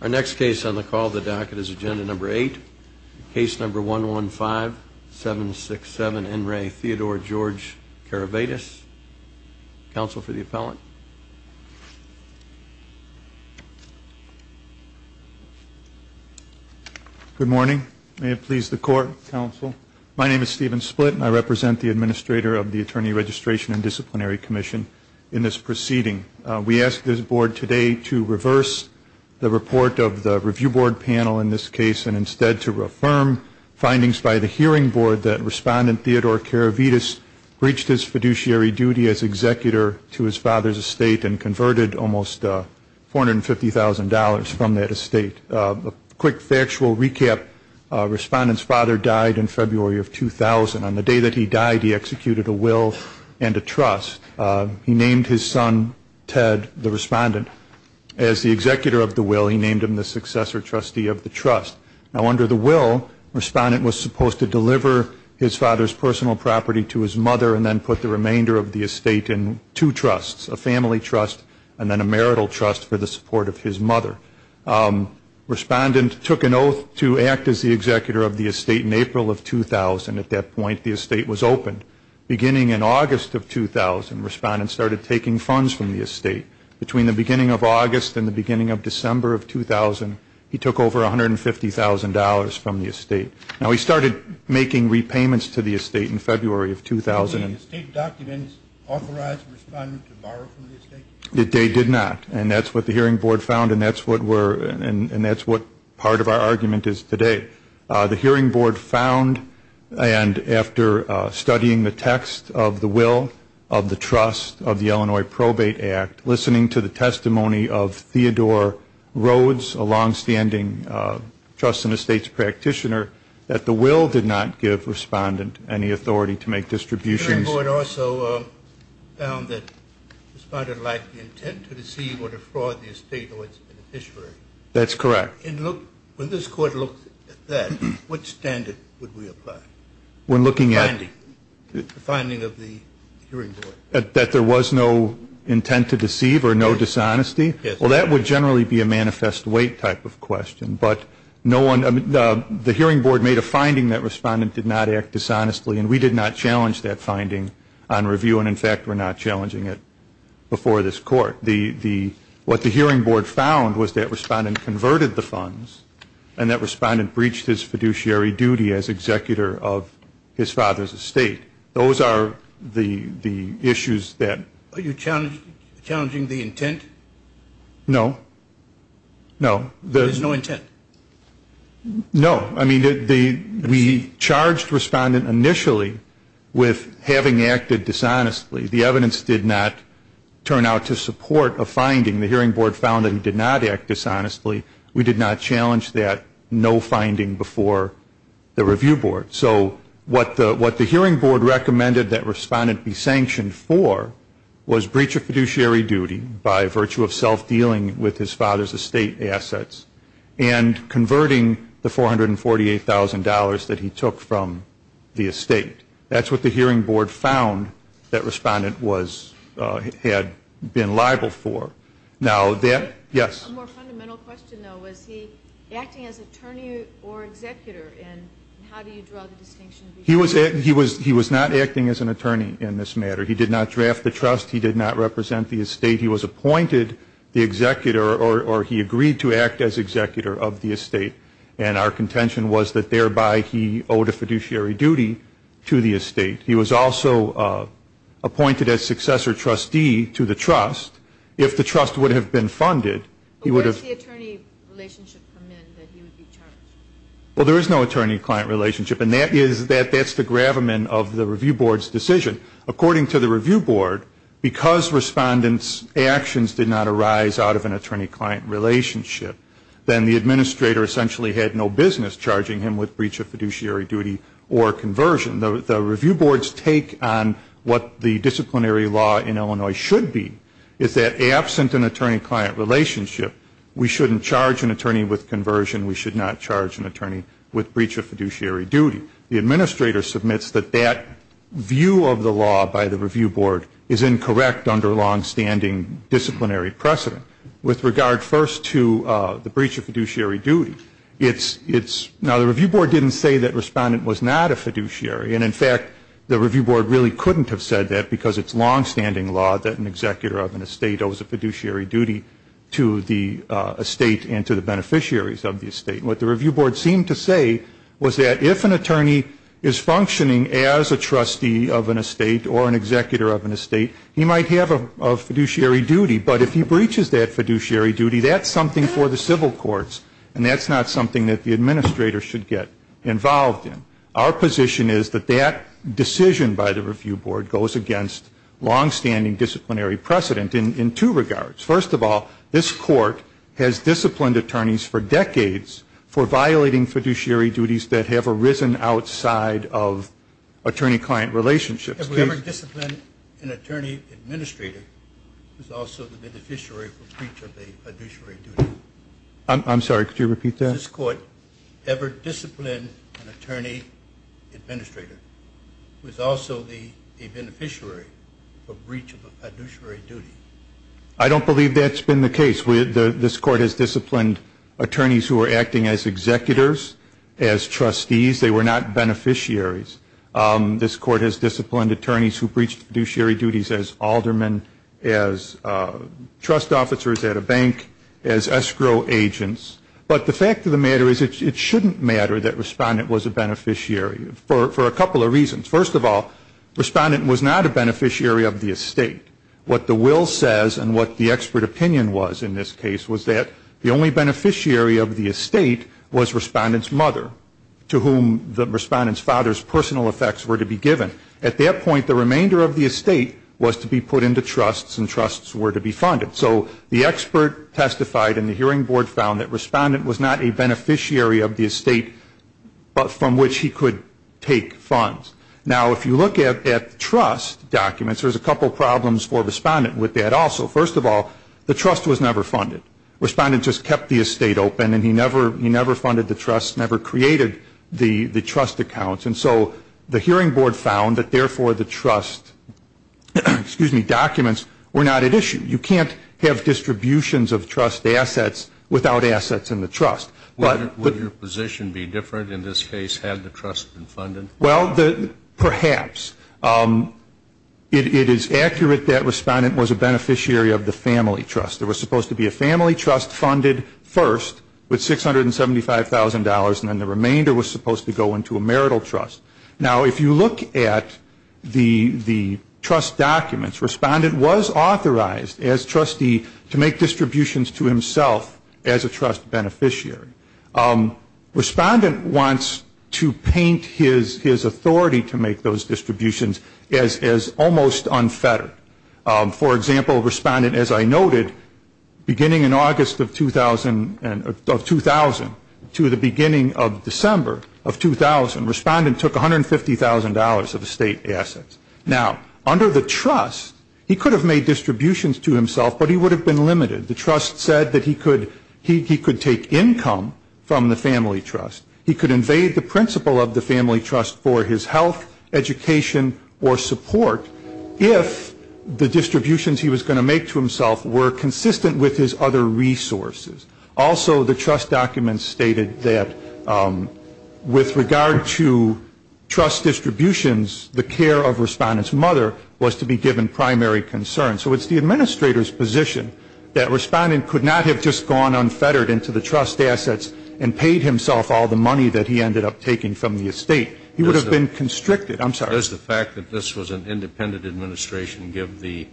Our next case on the call the docket is agenda number eight case number one one five seven six seven in Ray Theodore George Karavidas. Counsel for the appellant. Good morning may it please the court counsel my name is Stephen split and I represent the administrator of the Attorney Registration and Disciplinary Commission in this proceeding. We ask this board today to reverse the report of the review board panel in this case and instead to affirm findings by the hearing board that respondent Theodore Karavidas breached his fiduciary duty as executor to his father's estate and converted almost four hundred and fifty thousand dollars from that estate. A quick factual recap respondents father died in February of 2000 on the day that he died he executed a will and a trust he named his son Ted the respondent as the executor of the will he named him the successor trustee of the trust. Now under the will respondent was supposed to deliver his father's personal property to his mother and then put the remainder of the estate in two trusts a family trust and then a marital trust for the support of his mother. Respondent took an oath to act as the executor of the estate in April of 2000 at that point the estate was opened. Beginning in August of 2000 respondents started taking funds from the estate. Between the beginning of August and the beginning of December of 2000 he took over a hundred and fifty thousand dollars from the estate. Now he started making repayments to the estate in February of 2000. Did the estate documents authorize the respondent to borrow from the estate? They did not and that's what the hearing board found and that's what we're and that's what part of our argument is today. The hearing board found and after studying the text of the will of the trust of the Illinois probate act listening to the testimony of Theodore Rhodes a long-standing trust and estates practitioner that the will did not give respondent any authority to make distributions. The hearing board also found that the respondent lacked the intent to deceive or to fraud the estate or its beneficiary. That's correct. When this court looked at that, which standard would we apply? When looking at the finding of the hearing board. That there was no intent to deceive or no dishonesty? Yes. Well that would generally be a manifest weight type of question but no one the hearing board made a finding that respondent did not act dishonestly and we did not challenge that finding on review and in fact we're not challenging it before this court. What the hearing board found was that respondent converted the funds and that respondent breached his fiduciary duty as executor of his father's estate. Those are the the issues that. Are you challenging the intent? No. No. There's no intent? No. I mean we charged respondent initially with having acted dishonestly. The evidence did not turn out to be dishonestly. We did not challenge that no finding before the review board. So what the what the hearing board recommended that respondent be sanctioned for was breach of fiduciary duty by virtue of self dealing with his father's estate assets and converting the $448,000 that he took from the estate. That's what the hearing board found that respondent was had been liable for. Now that. Yes. A more fundamental question though was he acting as attorney or executor and how do you draw the distinction? He was he was he was not acting as an attorney in this matter. He did not draft the trust. He did not represent the estate. He was appointed the executor or he agreed to act as executor of the estate and our contention was that thereby he owed a fiduciary duty to the estate. He was also appointed as successor trustee to the trust. If the trust would have been funded he would have. Well there is no attorney client relationship and that is that that's the gravamen of the review board's decision. According to the review board because respondent's actions did not arise out of an attorney client relationship then the administrator essentially had no business charging him with breach of fiduciary duty or conversion. The review board's take on what the disciplinary law in Illinois should be is that absent an attorney client relationship we shouldn't charge an attorney with conversion. We should not charge an attorney with breach of fiduciary duty. The administrator submits that that view of the law by the review board is incorrect under long standing disciplinary precedent. With regard first to the breach of fiduciary duty it's it's now the review board didn't say that respondent was not a fiduciary and in fact the review board really couldn't have said that because it's long standing law that an executor of an estate owes a fiduciary duty to the estate and to the beneficiaries of the estate. What the review board seemed to say was that if an attorney is functioning as a trustee of an estate or an executor of an estate he might have a fiduciary duty but if he breaches that fiduciary duty that's something for the civil courts and that's not something that the decision by the review board goes against long standing disciplinary precedent in two regards. First of all this court has disciplined attorneys for decades for violating fiduciary duties that have arisen outside of attorney client relationships. If we ever discipline an attorney administrator who's also the beneficiary for breach of a fiduciary duty. I'm sorry could you repeat that? If we ever discipline an attorney administrator who's also the beneficiary for breach of a fiduciary duty. I don't believe that's been the case with this court has disciplined attorneys who are acting as executors as trustees they were not beneficiaries. This court has disciplined attorneys who breached fiduciary duties as aldermen as trust officers at a bank as escrow agents but the fact of the matter is it shouldn't matter that Respondent was a beneficiary for a couple of reasons. First of all Respondent was not a beneficiary of the estate. What the will says and what the expert opinion was in this case was that the only beneficiary of the estate was Respondent's mother to whom the Respondent's father's personal effects were to be given. At that point the remainder of the estate was to be put into trusts and trusts were to be funded. So the expert testified and the hearing board found that Respondent was not a beneficiary of the estate but from which he could take funds. Now if you look at trust documents there's a couple problems for Respondent with that also. First of all the trust was never funded. Respondent just kept the estate open and he never he never funded the trust never created the trust accounts and so the hearing board found that therefore the trust, excuse me, documents were not at issue. You can't have distributions of trust assets without assets in the trust. Would your position be different in this case had the trust been funded? Well perhaps. It is accurate that Respondent was a beneficiary of the family trust. There was supposed to be a family trust funded first with $675,000 and then the remainder was supposed to go into a marital trust. Now if you look at the trust documents Respondent was authorized as trustee to make distributions to himself as a trust beneficiary. Respondent wants to paint his authority to make those distributions as almost unfettered. For example Respondent as I noted beginning in August of 2000 to the beginning of December of 2000 Respondent took $150,000 of estate assets. Now under the trust he could have made distributions to himself but he would have been limited. The trust said that he could take income from the family trust. He could invade the principle of the family trust for his health, education, or support if the distributions he was going to make to himself were consistent with his other resources. Also the trust documents stated that with regard to trust distributions the care of Respondent's mother was to be given primary concern. So it's the administrator's position that Respondent could not have just gone unfettered into the trust assets and paid himself all the money that he ended up taking from the estate. He would have been constricted. I'm sorry. Does the fact that this was an independent administration give the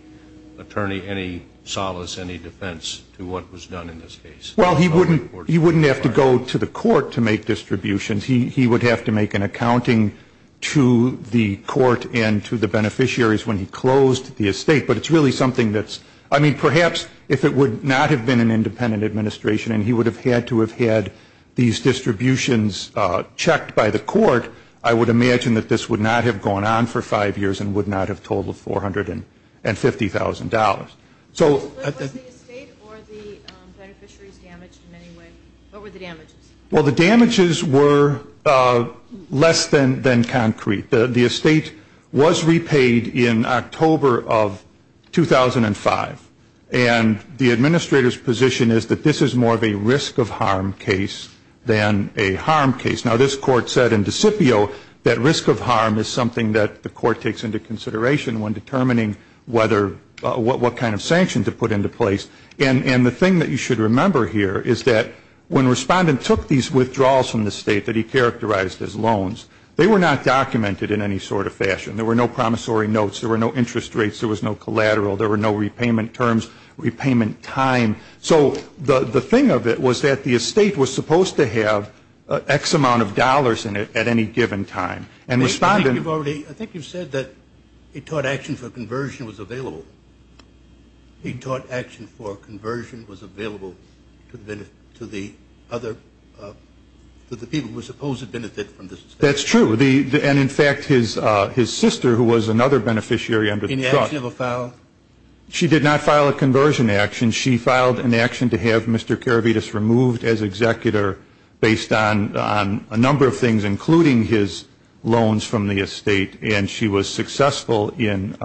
attorney any solace, any defense to what was done in this case? Well he wouldn't have to go to the court to make distributions. He would have to make an accounting to the court and to the beneficiaries when he closed the estate. But it's really something that's, I mean perhaps if it would not have been an independent administration and he would have had to have had these distributions checked by the court, I would imagine that this would not have gone on for five years and would not have totaled $450,000. So was the estate or the beneficiaries damaged in any way? What were the damages? Well the damages were less than concrete. The estate was repaid in October of 2005. And the administrator's position is that this is more of a risk of harm case than a harm case. Now this court said in Decipio that risk of harm is something that the court takes into consideration when determining what kind of sanction to put into place. And the thing that you should remember here is that when Respondent took these withdrawals from the estate that he characterized as loans, they were not documented in any sort of fashion. There were no promissory notes. There were no interest rates. There was no collateral. There were no repayment terms, repayment time. So the thing of it was that the estate was supposed to have X amount of dollars in it at any given time. I think you've said that he taught action for conversion was available. He taught action for conversion was available to the people who were supposed to benefit from this estate. That's true. And in fact, his sister, who was another beneficiary under the truck, she did not file a conversion action. She filed an action to have Mr. Karavetis removed as executor based on a number of things, including his loans from the estate. And she was successful in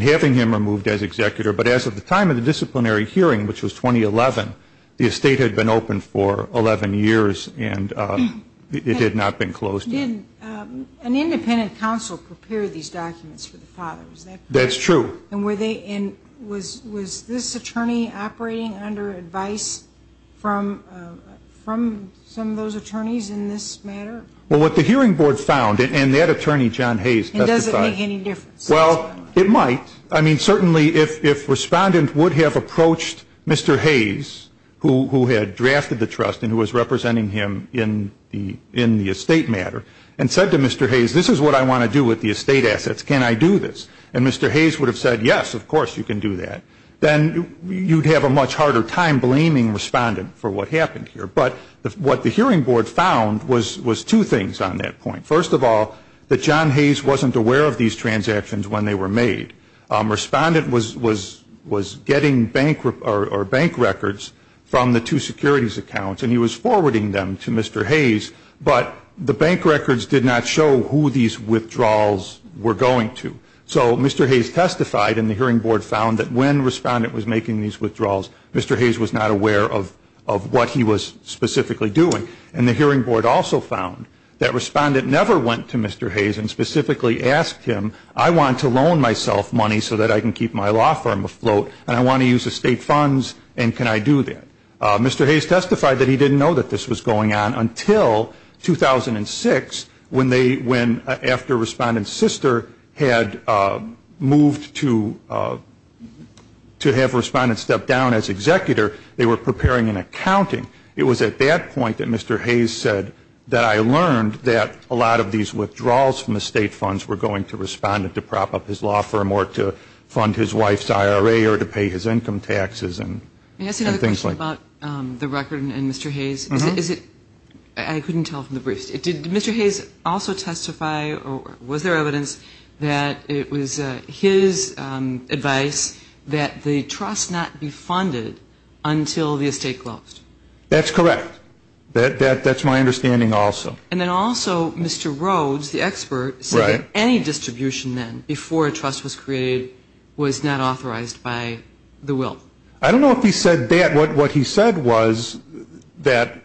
having him removed as executor. But as of the time of the disciplinary hearing, which was 2011, the estate had been open for 11 years and it had not been closed yet. Did an independent counsel prepare these documents for the father? Is that correct? That's true. And was this attorney operating under advice from some of those attorneys in this matter? Well, what the hearing board found, and that attorney, John Hayes, testified. And does it make any difference? Well, it might. I mean, certainly if Respondent would have approached Mr. Hayes, who had drafted the trust and who was representing him in the estate matter, and said to Mr. Hayes, this is what I want to do with the estate assets. Can I do this? And Mr. Hayes would have said, yes, of course you can do that. Then you'd have a much harder time blaming Respondent for what happened here. But what the hearing board found was two things on that point. First of all, that John Hayes wasn't aware of these transactions when they were made. Respondent was getting bank records from the two securities accounts and he was forwarding them to Mr. Hayes, but the bank records did not show who these withdrawals were going to. So Mr. Hayes testified and the hearing board found that when Respondent was making these withdrawals, Mr. Hayes was not aware of what he was specifically doing. And the hearing board also found that Respondent never went to Mr. Hayes and specifically asked him, I want to loan myself money so that I can keep my law firm afloat, and I want to use estate funds, and can I do that? Mr. Hayes testified that he didn't know that this was going on until 2006, when after Respondent's sister had moved to have Respondent step down as executor, they were preparing an accounting. It was at that point that Mr. Hayes said that I learned that a lot of these withdrawals from estate funds were going to Respondent to prop up his law firm or to fund his wife's IRA or to pay his income taxes and things like that. I have a question about the record and Mr. Hayes. I couldn't tell from the briefs. Did Mr. Hayes also testify or was there evidence that it was his advice that the trust not be funded until the estate closed? That's correct. That's my understanding also. And then also Mr. Rhodes, the expert, said that any distribution then before a trust was created was not authorized by the will. I don't know if he said that. What he said was that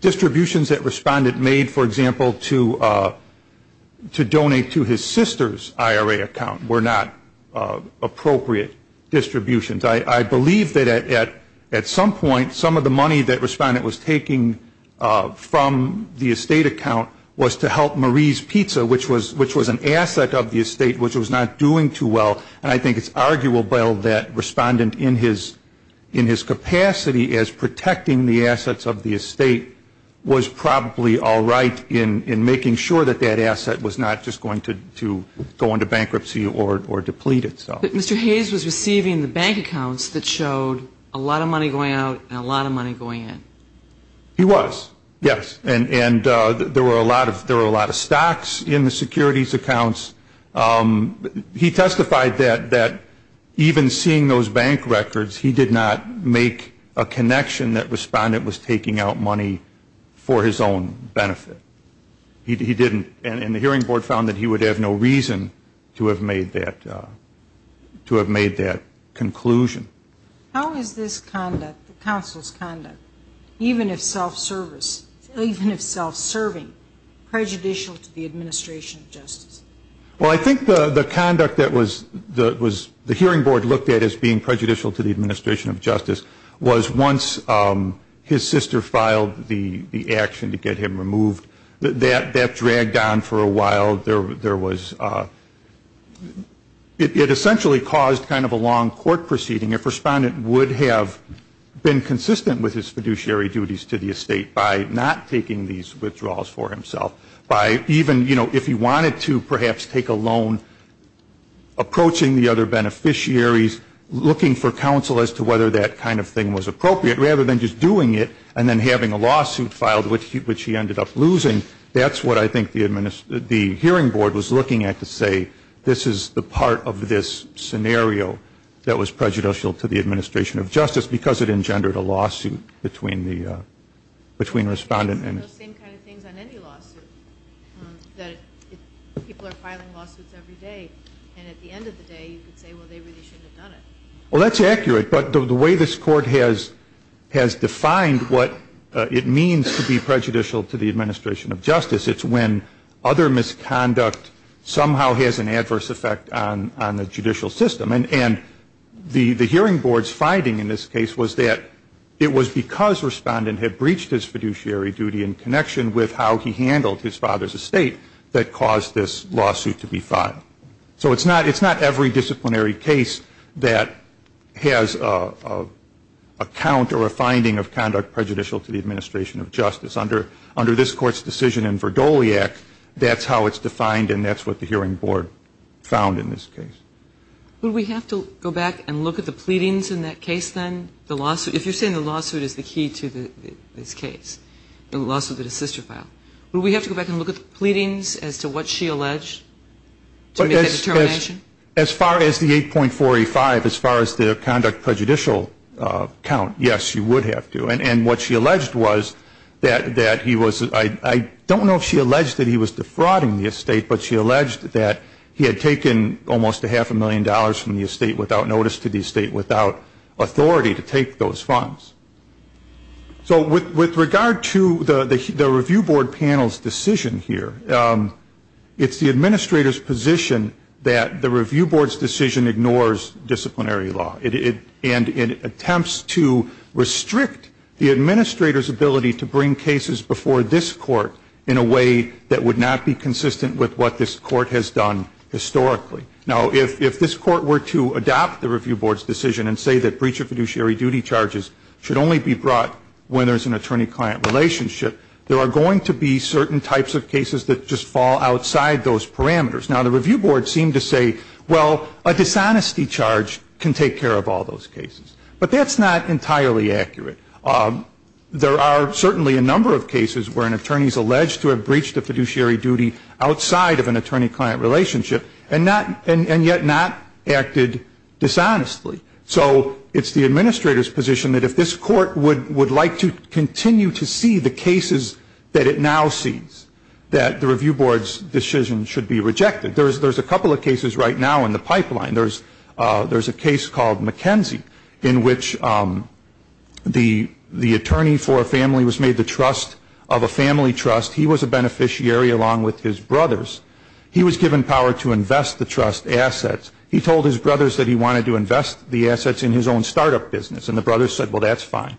distributions that Respondent made, for example, to donate to his sister's IRA account were not appropriate distributions. I believe that at some point some of the money that Respondent was taking from the estate account was to help Marie's Pizza, which was an asset of the estate, which was not doing too well, and I think it's arguable that Respondent in his capacity as protecting the assets of the estate was probably all right in making sure that that asset was not just going to go into bankruptcy or deplete itself. But Mr. Hayes was receiving the bank accounts that showed a lot of money going out and a lot of money going in. He was, yes. And there were a lot of stocks in the securities accounts. He testified that even seeing those bank records, he did not make a connection that Respondent was taking out money for his own benefit. He didn't. And the hearing board found that he would have no reason to have made that conclusion. How is this conduct, the counsel's conduct, even if self-service, even if self-serving, prejudicial to the administration of justice? Well, I think the conduct that the hearing board looked at as being prejudicial to the administration of justice was once his sister filed the action to get him removed, that dragged on for a while. There was, it essentially caused kind of a long court proceeding. If Respondent would have been consistent with his fiduciary duties to the estate by not taking these withdrawals for himself, by even, you know, if he wanted to perhaps take a loan, approaching the other beneficiaries, looking for counsel as to whether that kind of thing was appropriate, rather than just doing it and then having a lawsuit filed, which he ended up losing. That's what I think the hearing board was looking at to say, this is the part of this scenario that was prejudicial to the administration of justice because it engendered a lawsuit between Respondent and. It's the same kind of things on any lawsuit, that people are filing lawsuits every day. And at the end of the day, you could say, well, they really shouldn't have done it. Well, that's accurate. But the way this court has defined what it means to be prejudicial to the administration of justice, it's when other misconduct somehow has an adverse effect on the judicial system. And the hearing board's finding in this case was that it was because Respondent had breached his fiduciary duty in connection with how he handled his father's estate that caused this lawsuit to be filed. So it's not every disciplinary case that has a count or a finding of conduct prejudicial to the administration of justice. Under this Court's decision in Verdoliac, that's how it's defined, and that's what the hearing board found in this case. Would we have to go back and look at the pleadings in that case, then, the lawsuit? If you're saying the lawsuit is the key to this case, the lawsuit that his sister filed, would we have to go back and look at the pleadings as to what she alleged to make that determination? As far as the 8.45, as far as the conduct prejudicial count, yes, you would have to. And what she alleged was that he was – I don't know if she alleged that he was defrauding the estate, but she alleged that he had taken almost a half a million dollars from the estate without notice to the estate, without authority to take those funds. So with regard to the review board panel's decision here, it's the administrator's position that the review board's decision ignores disciplinary law and attempts to restrict the administrator's ability to bring cases before this court in a way that would not be consistent with what this court has done historically. Now, if this court were to adopt the review board's decision and say that breach of fiduciary duty charges should only be brought when there's an attorney-client relationship, there are going to be certain types of cases that just fall outside those parameters. Now, the review board seemed to say, well, a dishonesty charge can take care of all those cases. But that's not entirely accurate. There are certainly a number of cases where an attorney is alleged to have breached a fiduciary duty outside of an attorney-client relationship and yet not acted dishonestly. So it's the administrator's position that if this court would like to continue to see the cases that it now sees, that the review board's decision should be rejected. There's a couple of cases right now in the pipeline. There's a case called McKenzie in which the attorney for a family was made the trust of a family trust. He was a beneficiary along with his brothers. He was given power to invest the trust assets. He told his brothers that he wanted to invest the assets in his own startup business, and the brothers said, well, that's fine.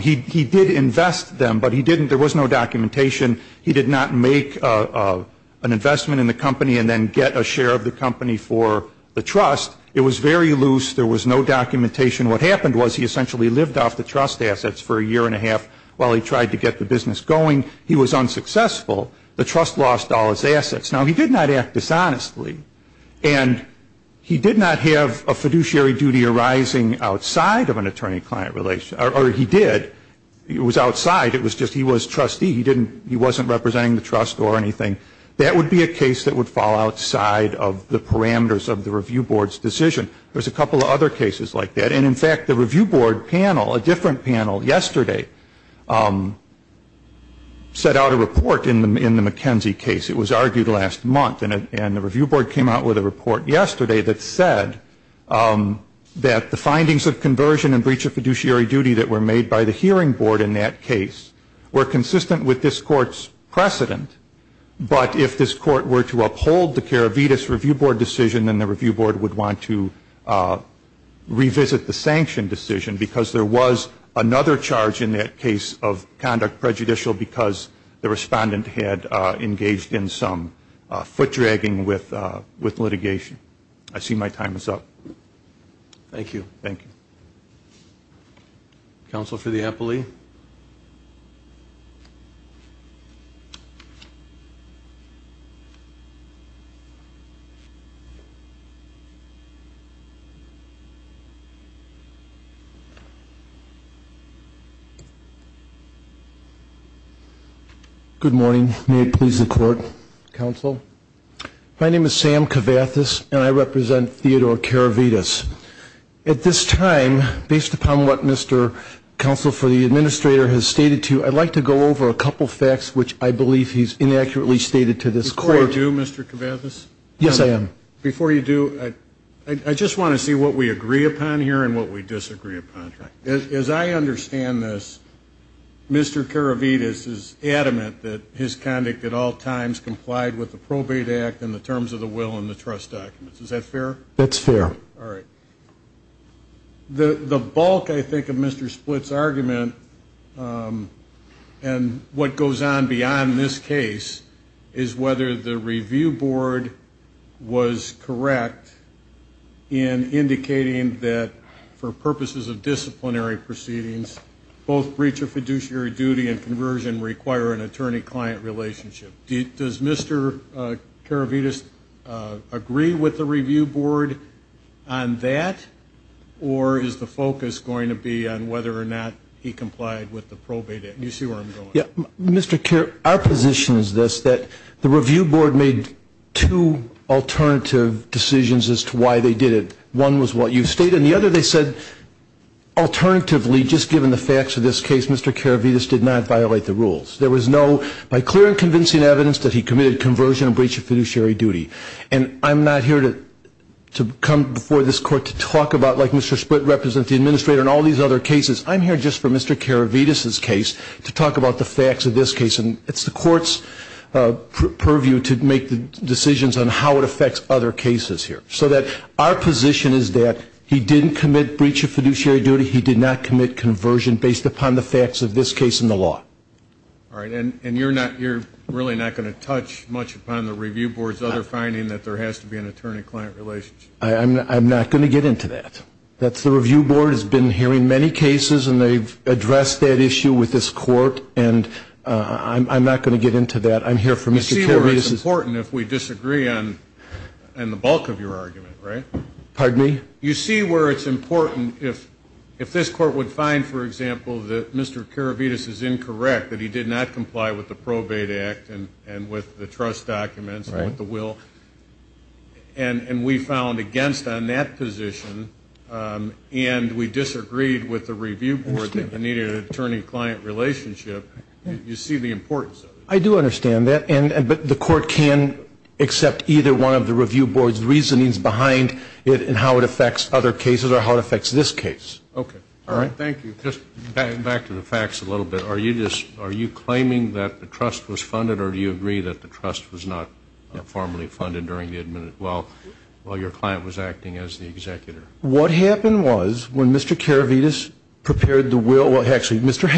He did invest them, but he didn't – there was no documentation. He did not make an investment in the company and then get a share of the company for the trust. It was very loose. There was no documentation. What happened was he essentially lived off the trust assets for a year and a half while he tried to get the business going. He was unsuccessful. The trust lost all its assets. Now, he did not act dishonestly, and he did not have a fiduciary duty arising outside of an attorney-client relationship, or he did. It was outside. It was just he was trustee. He didn't – he wasn't representing the trust or anything. That would be a case that would fall outside of the parameters of the review board's decision. There's a couple of other cases like that. And, in fact, the review board panel, a different panel yesterday, set out a report in the McKenzie case. It was argued last month, and the review board came out with a report yesterday that said that the findings of conversion and breach of fiduciary duty that were made by the hearing board in that case were consistent with this court's precedent, but if this court were to uphold the Karavetis Review Board decision, then the review board would want to revisit the sanction decision because there was another charge in that case of conduct prejudicial because the respondent had engaged in some foot-dragging with litigation. I see my time is up. Thank you. Thank you. Counsel for the appellee. Good morning. May it please the court. Counsel. My name is Sam Kavathis, and I represent Theodore Karavetis. At this time, based upon what Mr. Counsel for the administrator has stated to you, I'd like to go over a couple of facts which I believe he's inaccurately stated to this court. Before you do, Mr. Kavathis. Yes, I am. Before you do, I just want to see what we agree upon here and what we disagree upon. As I understand this, Mr. Karavetis is adamant that his conduct at all times complied with the Probate Act and the terms of the will and the trust documents. Is that fair? That's fair. All right. The bulk, I think, of Mr. Splitt's argument and what goes on beyond this case is whether the review board was correct in indicating that for purposes of disciplinary proceedings, both breach of fiduciary duty and conversion require an attorney-client relationship. Does Mr. Karavetis agree with the review board on that, or is the focus going to be on whether or not he complied with the Probate Act? You see where I'm going. Mr. Kerr, our position is this, that the review board made two alternative decisions as to why they did it. One was what you stated, and the other they said alternatively, just given the facts of this case, Mr. Karavetis did not violate the rules. There was no, by clear and convincing evidence, that he committed conversion and breach of fiduciary duty. And I'm not here to come before this Court to talk about, like Mr. Splitt represents the administrator in all these other cases, I'm here just for Mr. Karavetis's case to talk about the facts of this case. And it's the Court's purview to make the decisions on how it affects other cases here. So that our position is that he didn't commit breach of fiduciary duty, he did not commit conversion based upon the facts of this case and the law. All right. And you're not, you're really not going to touch much upon the review board's other finding that there has to be an attorney-client relationship? I'm not going to get into that. That's the review board has been hearing many cases, and they've addressed that issue with this Court, and I'm not going to get into that. I'm here for Mr. Karavetis's. You see where it's important if we disagree on the bulk of your argument, right? Pardon me? You see where it's important if this Court would find, for example, that Mr. Karavetis is incorrect, that he did not comply with the Probate Act and with the trust documents and with the will, and we found against on that position and we disagreed with the review board that needed an attorney-client relationship, you see the importance of it. I do understand that, but the Court can accept either one of the review board's reasonings behind it and how it affects other cases or how it affects this case. Okay. All right. Thank you. Just back to the facts a little bit. Are you claiming that the trust was funded, or do you agree that the trust was not formally funded while your client was acting as the executor? What happened was when Mr. Karavetis prepared the will, and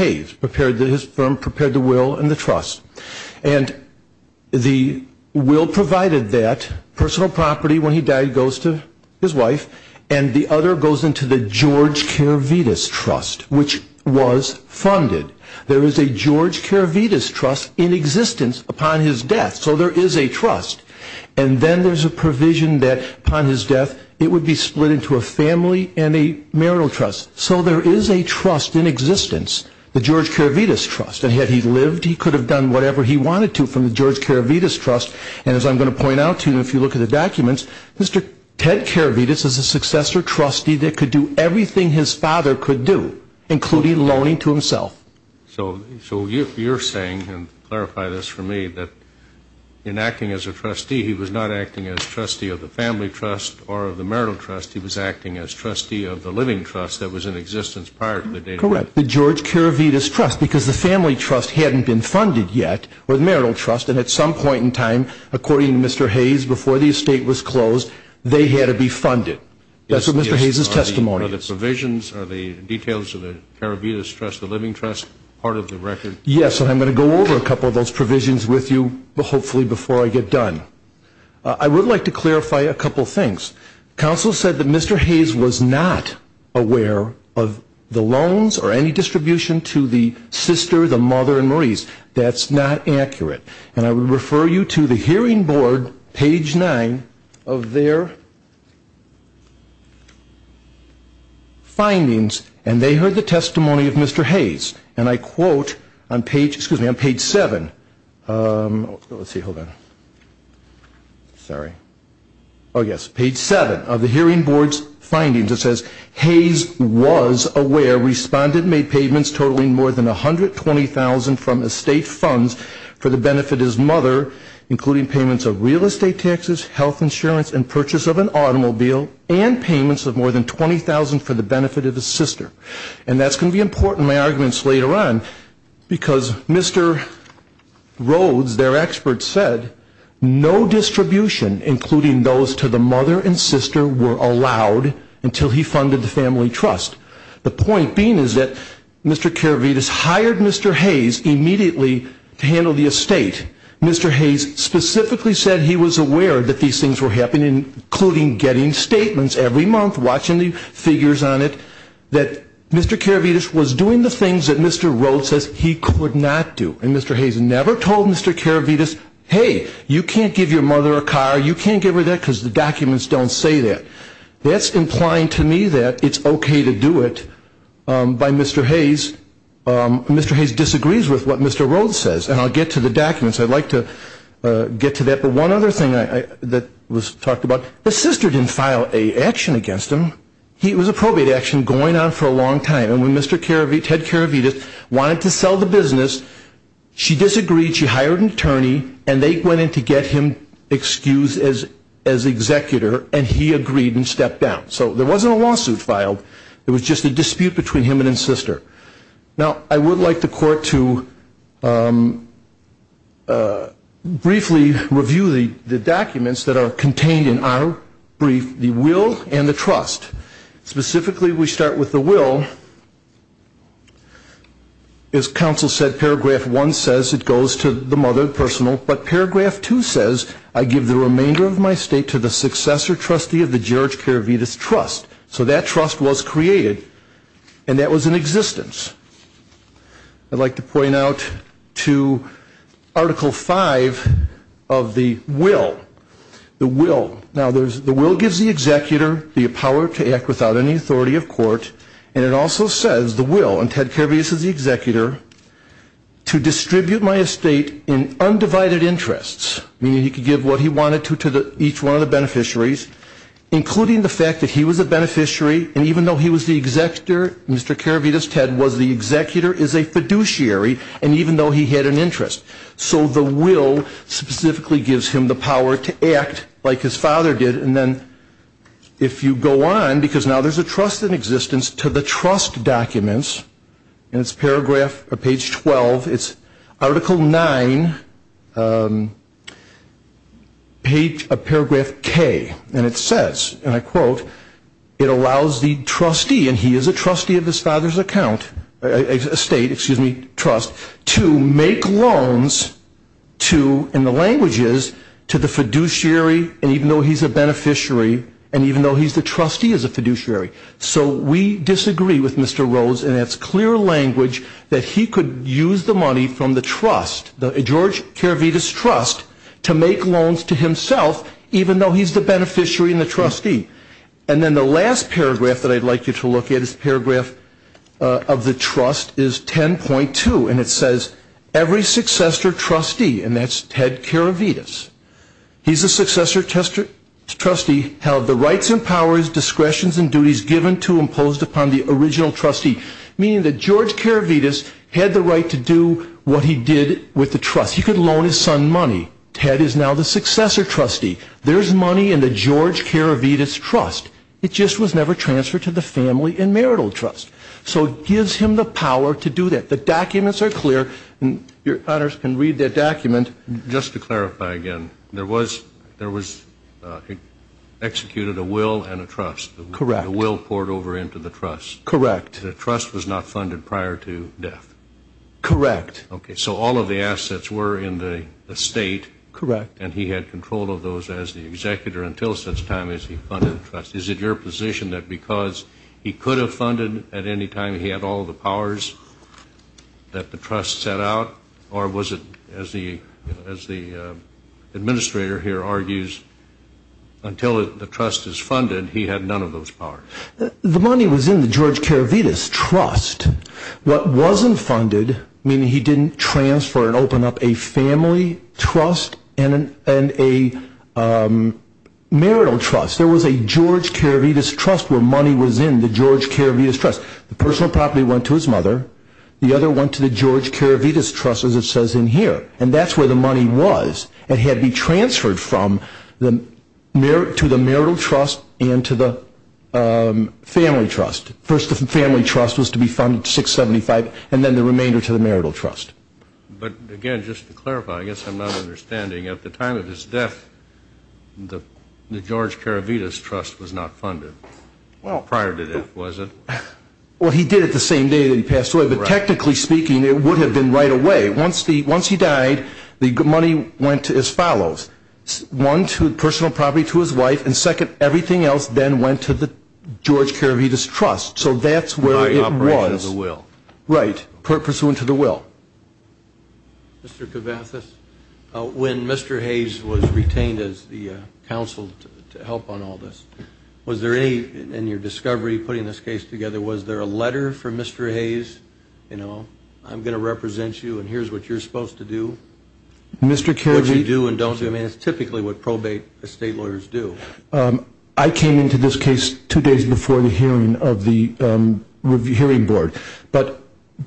the will provided that personal property when he died goes to his wife and the other goes into the George Karavetis Trust, which was funded. There is a George Karavetis Trust in existence upon his death, so there is a trust. And then there's a provision that upon his death it would be split into a family and a marital trust, so there is a trust in existence, the George Karavetis Trust. And had he lived, he could have done whatever he wanted to from the George Karavetis Trust. And as I'm going to point out to you, if you look at the documents, Mr. Ted Karavetis is a successor trustee that could do everything his father could do, including loaning to himself. So you're saying, and clarify this for me, that in acting as a trustee, he was not acting as trustee of the family trust or of the marital trust. He was acting as trustee of the living trust that was in existence prior to the day he died. Correct. The George Karavetis Trust, because the family trust hadn't been funded yet, or the marital trust, and at some point in time, according to Mr. Hayes, before the estate was closed, they had to be funded. That's what Mr. Hayes' testimony is. Are the provisions, are the details of the Karavetis Trust, the living trust, part of the record? Yes, and I'm going to go over a couple of those provisions with you hopefully before I get done. I would like to clarify a couple of things. Counsel said that Mr. Hayes was not aware of the loans or any distribution to the sister, the mother, and Maurice. That's not accurate. And I would refer you to the hearing board, page 9, of their findings, and they heard the testimony of Mr. Hayes. And I quote on page 7 of the hearing board's findings. It says, Hayes was aware, responded, made payments totaling more than $120,000 from estate funds for the benefit of his mother, including payments of real estate taxes, health insurance, and purchase of an automobile, and payments of more than $20,000 for the benefit of his sister. And that's going to be important in my arguments later on, because Mr. Rhodes, their expert, said no distribution, including those to the mother and sister, were allowed until he funded the family trust. The point being is that Mr. Karavetis hired Mr. Hayes immediately to handle the estate. Mr. Hayes specifically said he was aware that these things were happening, including getting statements every month, watching the figures on it, that Mr. Karavetis was doing the things that Mr. Rhodes says he could not do. And Mr. Hayes never told Mr. Karavetis, hey, you can't give your mother a car, you can't give her that because the documents don't say that. That's implying to me that it's okay to do it by Mr. Hayes. Mr. Hayes disagrees with what Mr. Rhodes says, and I'll get to the documents. I'd like to get to that. But one other thing that was talked about, the sister didn't file an action against him. It was a probate action going on for a long time, and when Ted Karavetis wanted to sell the business, she disagreed. She hired an attorney, and they went in to get him excused as executor, and he agreed and stepped down. So there wasn't a lawsuit filed. It was just a dispute between him and his sister. Now, I would like the court to briefly review the documents that are contained in our brief, the will and the trust. Specifically, we start with the will. As counsel said, Paragraph 1 says it goes to the mother, personal, but Paragraph 2 says I give the remainder of my estate to the successor trustee of the George Karavetis Trust. So that trust was created, and that was in existence. I'd like to point out to Article 5 of the will, the will. Now, the will gives the executor the power to act without any authority of court, and it also says the will, and Ted Karavetis is the executor, to distribute my estate in undivided interests, meaning he could give what he wanted to each one of the beneficiaries, including the fact that he was a beneficiary, and even though he was the executor, Mr. Karavetis, Ted, was the executor, is a fiduciary, and even though he had an interest. So the will specifically gives him the power to act like his father did, and then if you go on, because now there's a trust in existence to the trust documents, and it's Paragraph, or Page 12, it's Article 9, Paragraph K, and it says, and I quote, it allows the trustee, and he is a trustee of his father's account, estate, excuse me, trust, to make loans to, in the languages, to the fiduciary, and even though he's a beneficiary, and even though he's the trustee as a fiduciary. So we disagree with Mr. Rhodes, and it's clear language that he could use the money from the trust, the George Karavetis Trust, to make loans to himself, even though he's the beneficiary and the trustee. And then the last paragraph that I'd like you to look at is Paragraph of the Trust, is 10.2, and it says, every successor trustee, and that's Ted Karavetis, he's a successor trustee, held the rights and powers, discretions, and duties given to and imposed upon the original trustee, meaning that George Karavetis had the right to do what he did with the trust. He could loan his son money. Ted is now the successor trustee. There's money in the George Karavetis Trust. It just was never transferred to the Family and Marital Trust. So it gives him the power to do that. The documents are clear, and your honors can read that document. And just to clarify again, there was executed a will and a trust. Correct. The will poured over into the trust. Correct. The trust was not funded prior to death. Correct. Okay, so all of the assets were in the estate. Correct. And he had control of those as the executor until such time as he funded the trust. Is it your position that because he could have funded at any time he had all the powers that the trust set out, or was it, as the administrator here argues, until the trust is funded he had none of those powers? The money was in the George Karavetis Trust. What wasn't funded, meaning he didn't transfer and open up a Family Trust and a Marital Trust. There was a George Karavetis Trust where money was in the George Karavetis Trust. The personal property went to his mother. The other went to the George Karavetis Trust, as it says in here. And that's where the money was. It had to be transferred to the Marital Trust and to the Family Trust. First the Family Trust was to be funded to 675, and then the remainder to the Marital Trust. But, again, just to clarify, I guess I'm not understanding. At the time of his death, the George Karavetis Trust was not funded prior to death, was it? Well, he did it the same day that he passed away, but technically speaking it would have been right away. Once he died, the money went as follows. One, personal property to his wife, and second, everything else then went to the George Karavetis Trust. So that's where it was. By operation of the will. Right, pursuant to the will. Mr. Kavathis, when Mr. Hayes was retained as the counsel to help on all this, was there any, in your discovery, putting this case together, was there a letter from Mr. Hayes? You know, I'm going to represent you and here's what you're supposed to do. Mr. Karavetis. What you do and don't do. I mean, it's typically what probate estate lawyers do. I came into this case two days before the hearing of the hearing board. But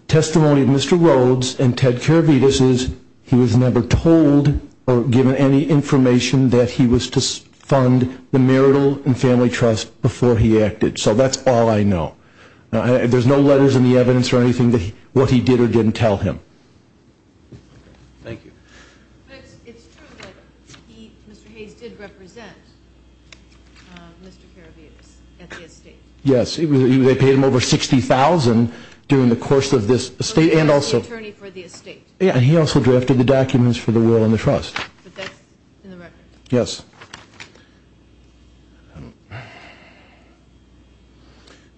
testimony of Mr. Rhodes and Ted Karavetis is he was never told or given any information that he was to fund the marital and family trust before he acted. So that's all I know. There's no letters in the evidence or anything that what he did or didn't tell him. Thank you. But it's true that Mr. Hayes did represent Mr. Karavetis at the estate. Yes, they paid him over $60,000 during the course of this estate and also. He was the attorney for the estate. Yeah, and he also drafted the documents for the will and the trust. But that's in the record. Yes.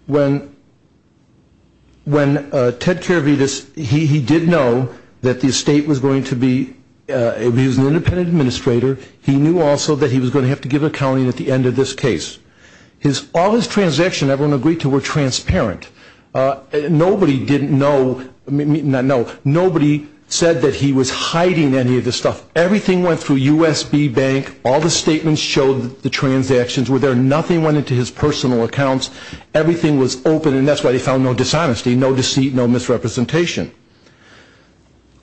When Ted Karavetis, he did know that the estate was going to be, he was an independent administrator. He knew also that he was going to have to give accounting at the end of this case. All his transactions everyone agreed to were transparent. Nobody didn't know, not know, nobody said that he was hiding any of this stuff. Everything went through USB bank. All the statements showed the transactions were there. Nothing went into his personal accounts. Everything was open and that's why he found no dishonesty, no deceit, no misrepresentation.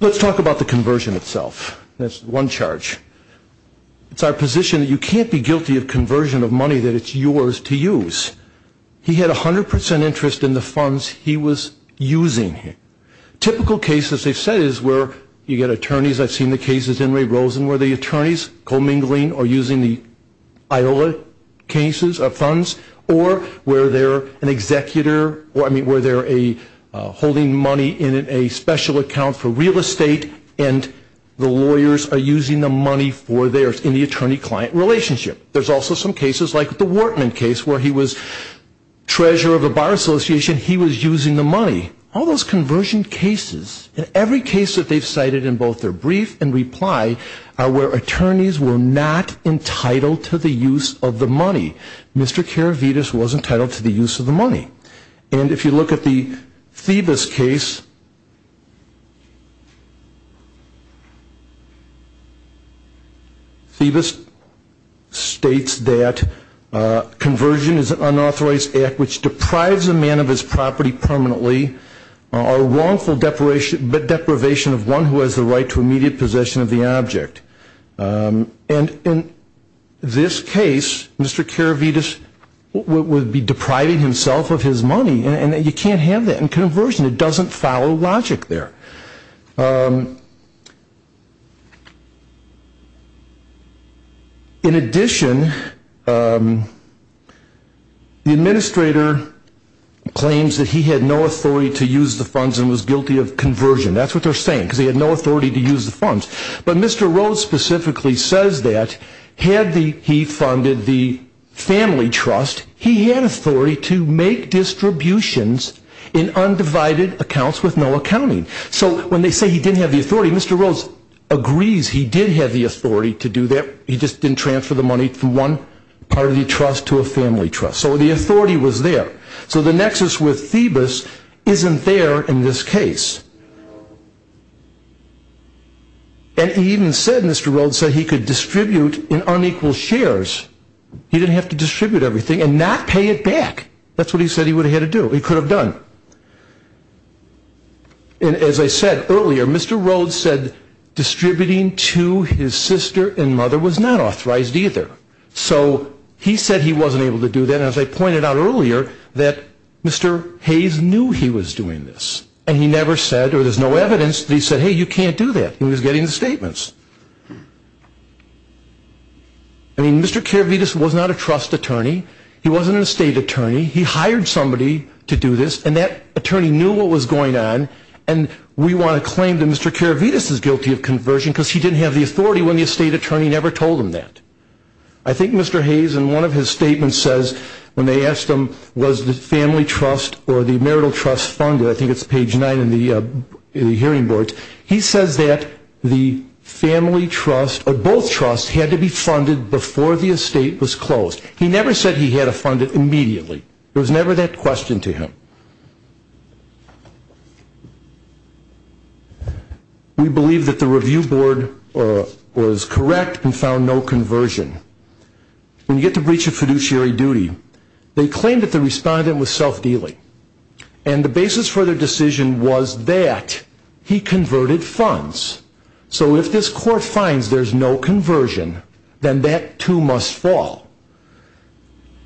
Let's talk about the conversion itself. That's one charge. It's our position that you can't be guilty of conversion of money that it's yours to use. He had 100% interest in the funds he was using. Typical cases they've said is where you get attorneys. I've seen the cases in Ray Rosen where the attorneys co-mingling or using the Iola cases of funds or where they're an executor or I mean where they're holding money in a special account for real estate and the lawyers are using the money for theirs in the attorney-client relationship. There's also some cases like the Wortman case where he was treasurer of a buyer's association. He was using the money. All those conversion cases and every case that they've cited in both their brief and reply are where attorneys were not entitled to the use of the money. Mr. Karavides was entitled to the use of the money. And if you look at the Thebus case, Thebus states that conversion is an unauthorized act which deprives a man of his property permanently or wrongful deprivation of one who has the right to immediate possession of the object. And in this case, Mr. Karavides would be depriving himself of his money and you can't have that in conversion. It doesn't follow logic. In addition, the administrator claims that he had no authority to use the funds and was guilty of conversion. That's what they're saying because he had no authority to use the funds. But Mr. Rhodes specifically says that had he funded the family trust, he had authority to make distributions in undivided accounts with no accounting. So when they say he didn't have the authority, Mr. Rhodes agrees he did have the authority to do that. He just didn't transfer the money from one part of the trust to a family trust. So the authority was there. So the nexus with Thebus isn't there in this case. And he even said Mr. Rhodes said he could distribute in unequal shares. He didn't have to distribute everything and not pay it back. That's what he said he would have had to do. He could have done. And as I said earlier, Mr. Rhodes said distributing to his sister and mother was not authorized either. So he said he wasn't able to do that. And as I pointed out earlier, that Mr. Hayes knew he was doing this. And he never said or there's no evidence that he said, hey, you can't do that. He was getting the statements. I mean, Mr. Karavetis was not a trust attorney. He wasn't an estate attorney. He hired somebody to do this, and that attorney knew what was going on, and we want to claim that Mr. Karavetis is guilty of conversion because he didn't have the authority when the estate attorney never told him that. I think Mr. Hayes in one of his statements says when they asked him was the family trust or the marital trust funded, I think it's page 9 in the hearing boards, he says that the family trust or both trusts had to be funded before the estate was closed. He never said he had to fund it immediately. There was never that question to him. We believe that the review board was correct and found no conversion. When you get the breach of fiduciary duty, they claim that the respondent was self-dealing, and the basis for their decision was that he converted funds. So if this court finds there's no conversion, then that too must fall.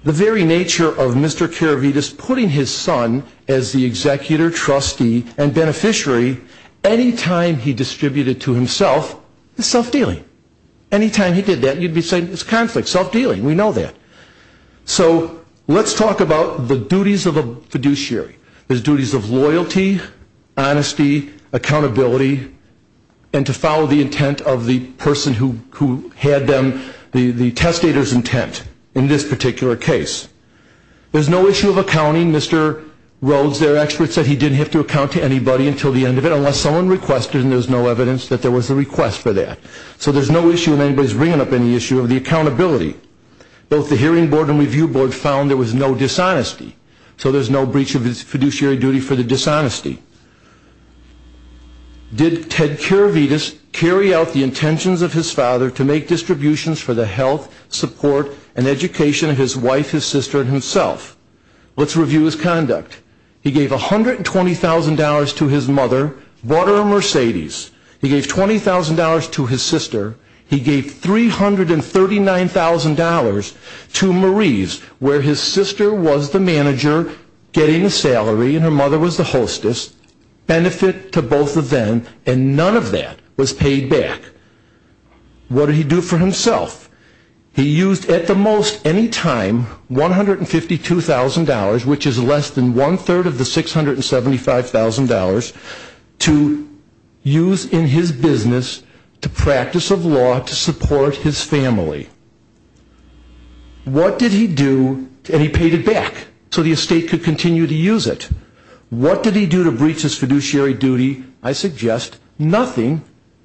The very nature of Mr. Karavetis putting his son as the executor, trustee, and beneficiary, any time he distributed to himself is self-dealing. Any time he did that, you'd be saying it's conflict, self-dealing, we know that. So let's talk about the duties of a fiduciary. There's duties of loyalty, honesty, accountability, and to follow the intent of the person who had them, the testator's intent in this particular case. There's no issue of accounting. Mr. Rhodes, their expert, said he didn't have to account to anybody until the end of it unless someone requested, and there's no evidence that there was a request for that. So there's no issue of anybody's bringing up any issue of the accountability. Both the hearing board and review board found there was no dishonesty, so there's no breach of his fiduciary duty for the dishonesty. Did Ted Karavetis carry out the intentions of his father to make distributions for the health, support, and education of his wife, his sister, and himself? Let's review his conduct. He gave $120,000 to his mother, bought her a Mercedes. He gave $20,000 to his sister. He gave $339,000 to Marie's, where his sister was the manager getting the salary and her mother was the hostess, benefit to both of them, and none of that was paid back. What did he do for himself? He used at the most any time $152,000, which is less than one-third of the $675,000, to use in his business to practice of law to support his family. What did he do? And he paid it back so the estate could continue to use it. What did he do to breach his fiduciary duty? I suggest nothing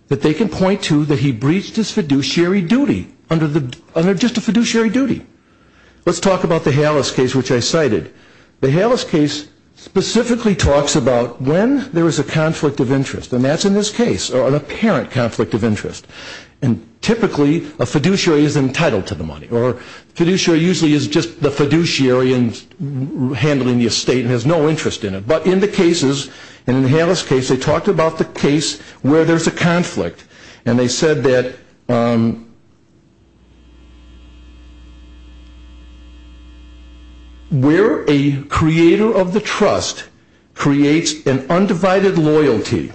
that they can point to that he breached his fiduciary duty, under just a fiduciary duty. Let's talk about the Hales case, which I cited. The Hales case specifically talks about when there is a conflict of interest, and that's in this case, or an apparent conflict of interest. Typically, a fiduciary is entitled to the money, or fiduciary usually is just the fiduciary handling the estate and has no interest in it. But in the cases, in the Hales case, they talked about the case where there's a conflict, and they said that where a creator of the trust creates an undivided loyalty,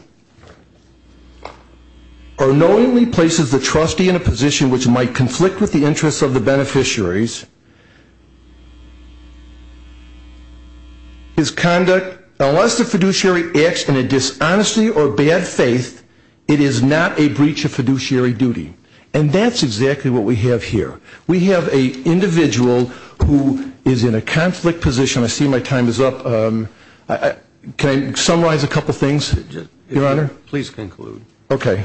or knowingly places the trustee in a position which might conflict with the interests of the beneficiaries, his conduct, unless the fiduciary acts in a dishonesty or bad faith, it is not a breach of fiduciary duty. And that's exactly what we have here. We have an individual who is in a conflict position. I see my time is up. Can I summarize a couple things, Your Honor? Please conclude. Okay.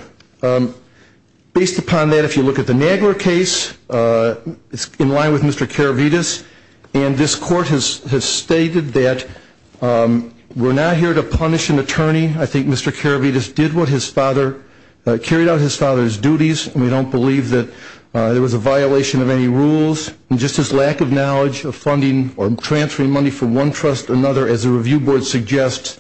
Based upon that, if you look at the Nagler case, it's in line with Mr. Karavides, and this court has stated that we're not here to punish an attorney. I think Mr. Karavides did what his father, carried out his father's duties, and we don't believe that there was a violation of any rules. And just his lack of knowledge of funding or transferring money from one trust to another, as the review board suggests,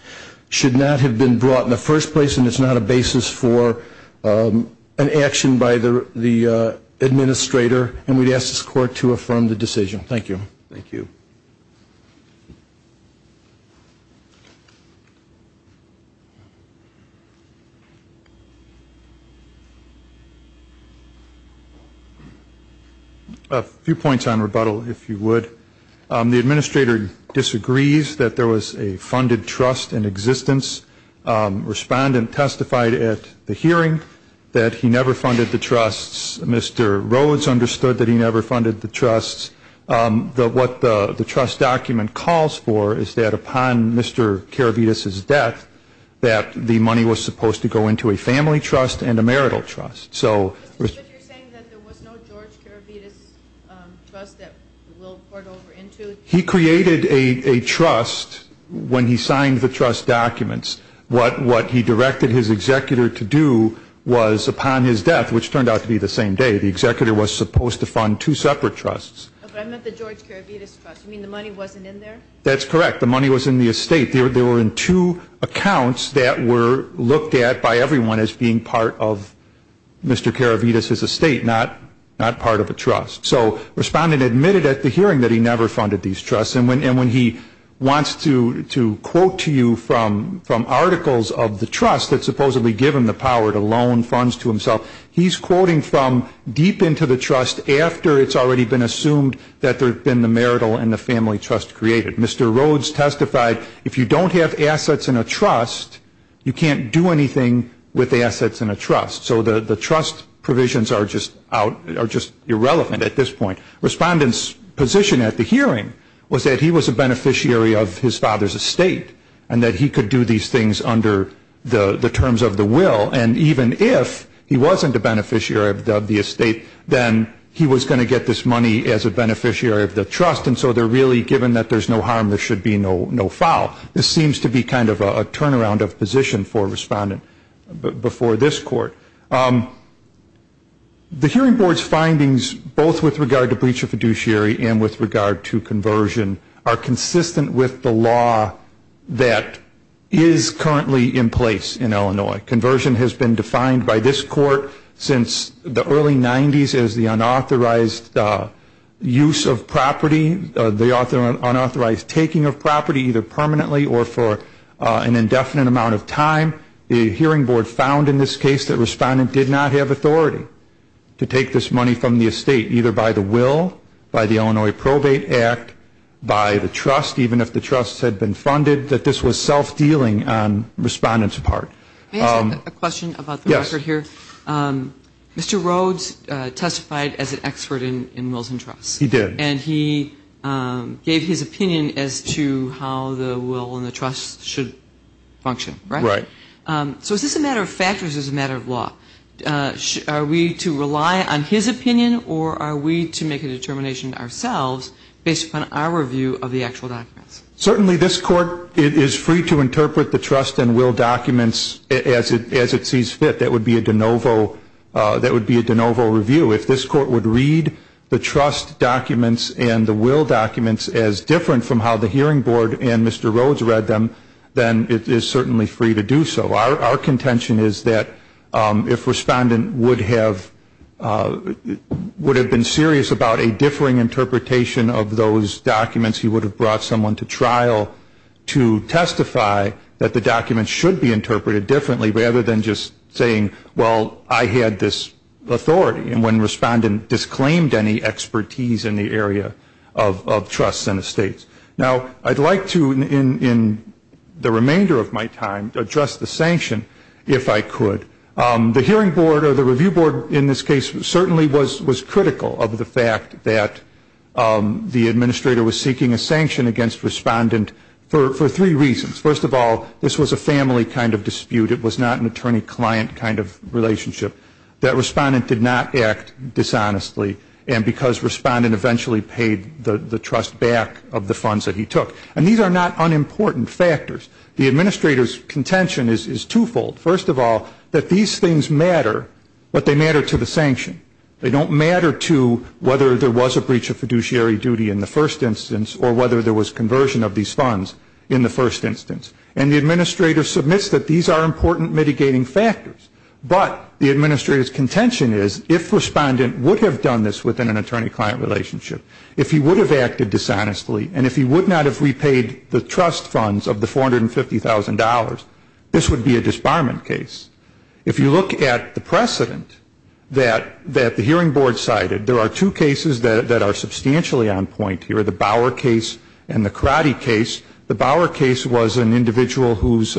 should not have been brought in the first place, and it's not a basis for an action by the administrator, and we'd ask this court to affirm the decision. Thank you. Thank you. A few points on rebuttal, if you would. The administrator disagrees that there was a funded trust in existence. Respondent testified at the hearing that he never funded the trusts. Mr. Rhodes understood that he never funded the trusts. What the trust document calls for is that upon Mr. Karavides' death, that the money was supposed to go into a family trust and a marital trust. Mr. Smith, you're saying that there was no George Karavides trust that Will poured over into? He created a trust when he signed the trust documents. What he directed his executor to do was, upon his death, which turned out to be the same day, the executor was supposed to fund two separate trusts. But I meant the George Karavides trust. You mean the money wasn't in there? That's correct. The money was in the estate. They were in two accounts that were looked at by everyone as being part of Mr. Karavides' estate, not part of a trust. So respondent admitted at the hearing that he never funded these trusts. And when he wants to quote to you from articles of the trust that supposedly give him the power to loan funds to himself, he's quoting from deep into the trust after it's already been assumed that there had been the marital and the family trust created. Mr. Rhodes testified, if you don't have assets in a trust, you can't do anything with assets in a trust. So the trust provisions are just irrelevant at this point. Respondent's position at the hearing was that he was a beneficiary of his father's estate and that he could do these things under the terms of the will. And even if he wasn't a beneficiary of the estate, then he was going to get this money as a beneficiary of the trust. And so they're really given that there's no harm, there should be no foul. This seems to be kind of a turnaround of position for a respondent before this court. The hearing board's findings, both with regard to breach of fiduciary and with regard to conversion, are consistent with the law that is currently in place in Illinois. Conversion has been defined by this court since the early 90s as the unauthorized use of property, the unauthorized taking of property either permanently or for an indefinite amount of time. The hearing board found in this case that a respondent did not have authority to take this money from the estate, either by the will, by the Illinois Probate Act, by the trust, even if the trust had been funded, that this was self-dealing on respondent's part. May I ask a question about the record here? Yes. Mr. Rhodes testified as an expert in wills and trusts. He did. And he gave his opinion as to how the will and the trust should function, right? Right. So is this a matter of factors or is this a matter of law? Are we to rely on his opinion or are we to make a determination ourselves based upon our view of the actual documents? Certainly this court is free to interpret the trust and will documents as it sees fit. That would be a de novo review. If this court would read the trust documents and the will documents as different from how the hearing board and Mr. Rhodes read them, then it is certainly free to do so. Our contention is that if respondent would have been serious about a differing interpretation of those documents, he would have brought someone to trial to testify that the documents should be interpreted differently, rather than just saying, well, I had this authority. And when respondent disclaimed any expertise in the area of trusts and estates. Now, I'd like to, in the remainder of my time, address the sanction, if I could. The hearing board or the review board in this case certainly was critical of the fact that the administrator was seeking a sanction against respondent for three reasons. First of all, this was a family kind of dispute. It was not an attorney-client kind of relationship. That respondent did not act dishonestly. And because respondent eventually paid the trust back of the funds that he took. And these are not unimportant factors. The administrator's contention is twofold. First of all, that these things matter, but they matter to the sanction. They don't matter to whether there was a breach of fiduciary duty in the first instance or whether there was conversion of these funds in the first instance. And the administrator submits that these are important mitigating factors. But the administrator's contention is if respondent would have done this within an attorney-client relationship, if he would have acted dishonestly and if he would not have repaid the trust funds of the $450,000, this would be a disbarment case. If you look at the precedent that the hearing board cited, there are two cases that are substantially on point here, the Bower case and the Karate case. The Bower case was an individual whose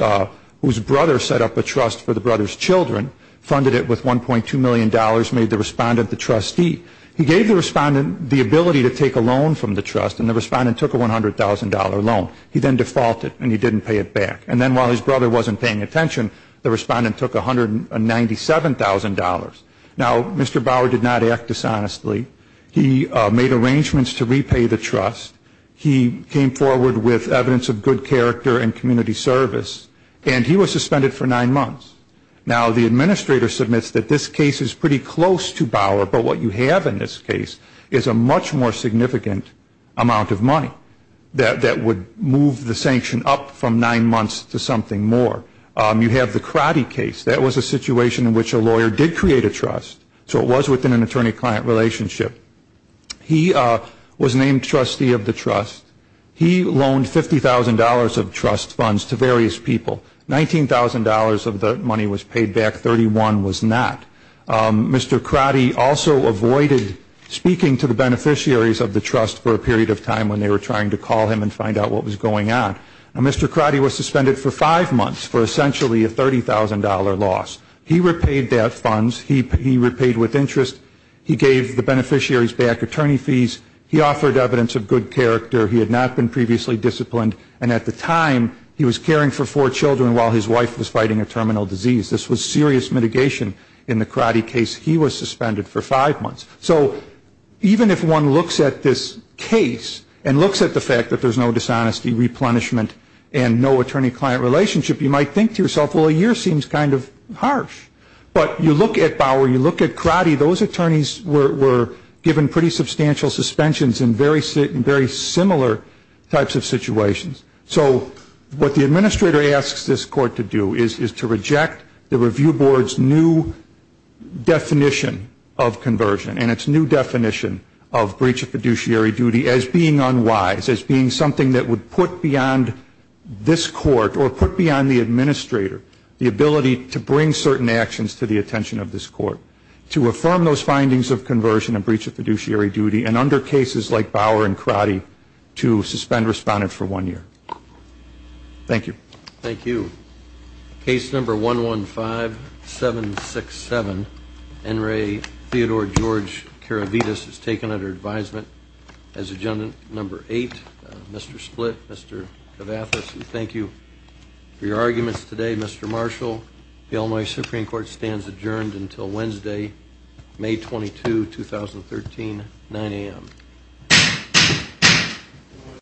brother set up a trust for the brother's children, funded it with $1.2 million, made the respondent the trustee. He gave the respondent the ability to take a loan from the trust, and the respondent took a $100,000 loan. He then defaulted, and he didn't pay it back. And then while his brother wasn't paying attention, the respondent took $197,000. Now, Mr. Bower did not act dishonestly. He made arrangements to repay the trust. He came forward with evidence of good character and community service, and he was suspended for nine months. Now, the administrator submits that this case is pretty close to Bower, but what you have in this case is a much more significant amount of money that would move the sanction up from nine months to something more. You have the Karate case. That was a situation in which a lawyer did create a trust, so it was within an attorney-client relationship. He was named trustee of the trust. He loaned $50,000 of trust funds to various people. $19,000 of the money was paid back. Thirty-one was not. Mr. Karate also avoided speaking to the beneficiaries of the trust for a period of time when they were trying to call him and find out what was going on. Mr. Karate was suspended for five months for essentially a $30,000 loss. He repaid that funds. He repaid with interest. He gave the beneficiaries back attorney fees. He offered evidence of good character. He had not been previously disciplined, and at the time he was caring for four children while his wife was fighting a terminal disease. This was serious mitigation in the Karate case. He was suspended for five months. So even if one looks at this case and looks at the fact that there's no dishonesty, replenishment, and no attorney-client relationship, you might think to yourself, well, a year seems kind of harsh. But you look at Bauer, you look at Karate, those attorneys were given pretty substantial suspensions in very similar types of situations. So what the administrator asks this court to do is to reject the review board's new definition of conversion and its new definition of breach of fiduciary duty as being unwise, as being something that would put beyond this court or put beyond the administrator the ability to bring certain actions to the attention of this court to affirm those findings of conversion and breach of fiduciary duty and under cases like Bauer and Karate to suspend respondents for one year. Thank you. Thank you. Case number 115-767, Enri Theodore George Karavides, is taken under advisement as agenda number eight. Mr. Split, Mr. Kavathis, we thank you for your arguments today. Mr. Marshall, the Illinois Supreme Court stands adjourned until Wednesday, May 22, 2013, 9 a.m.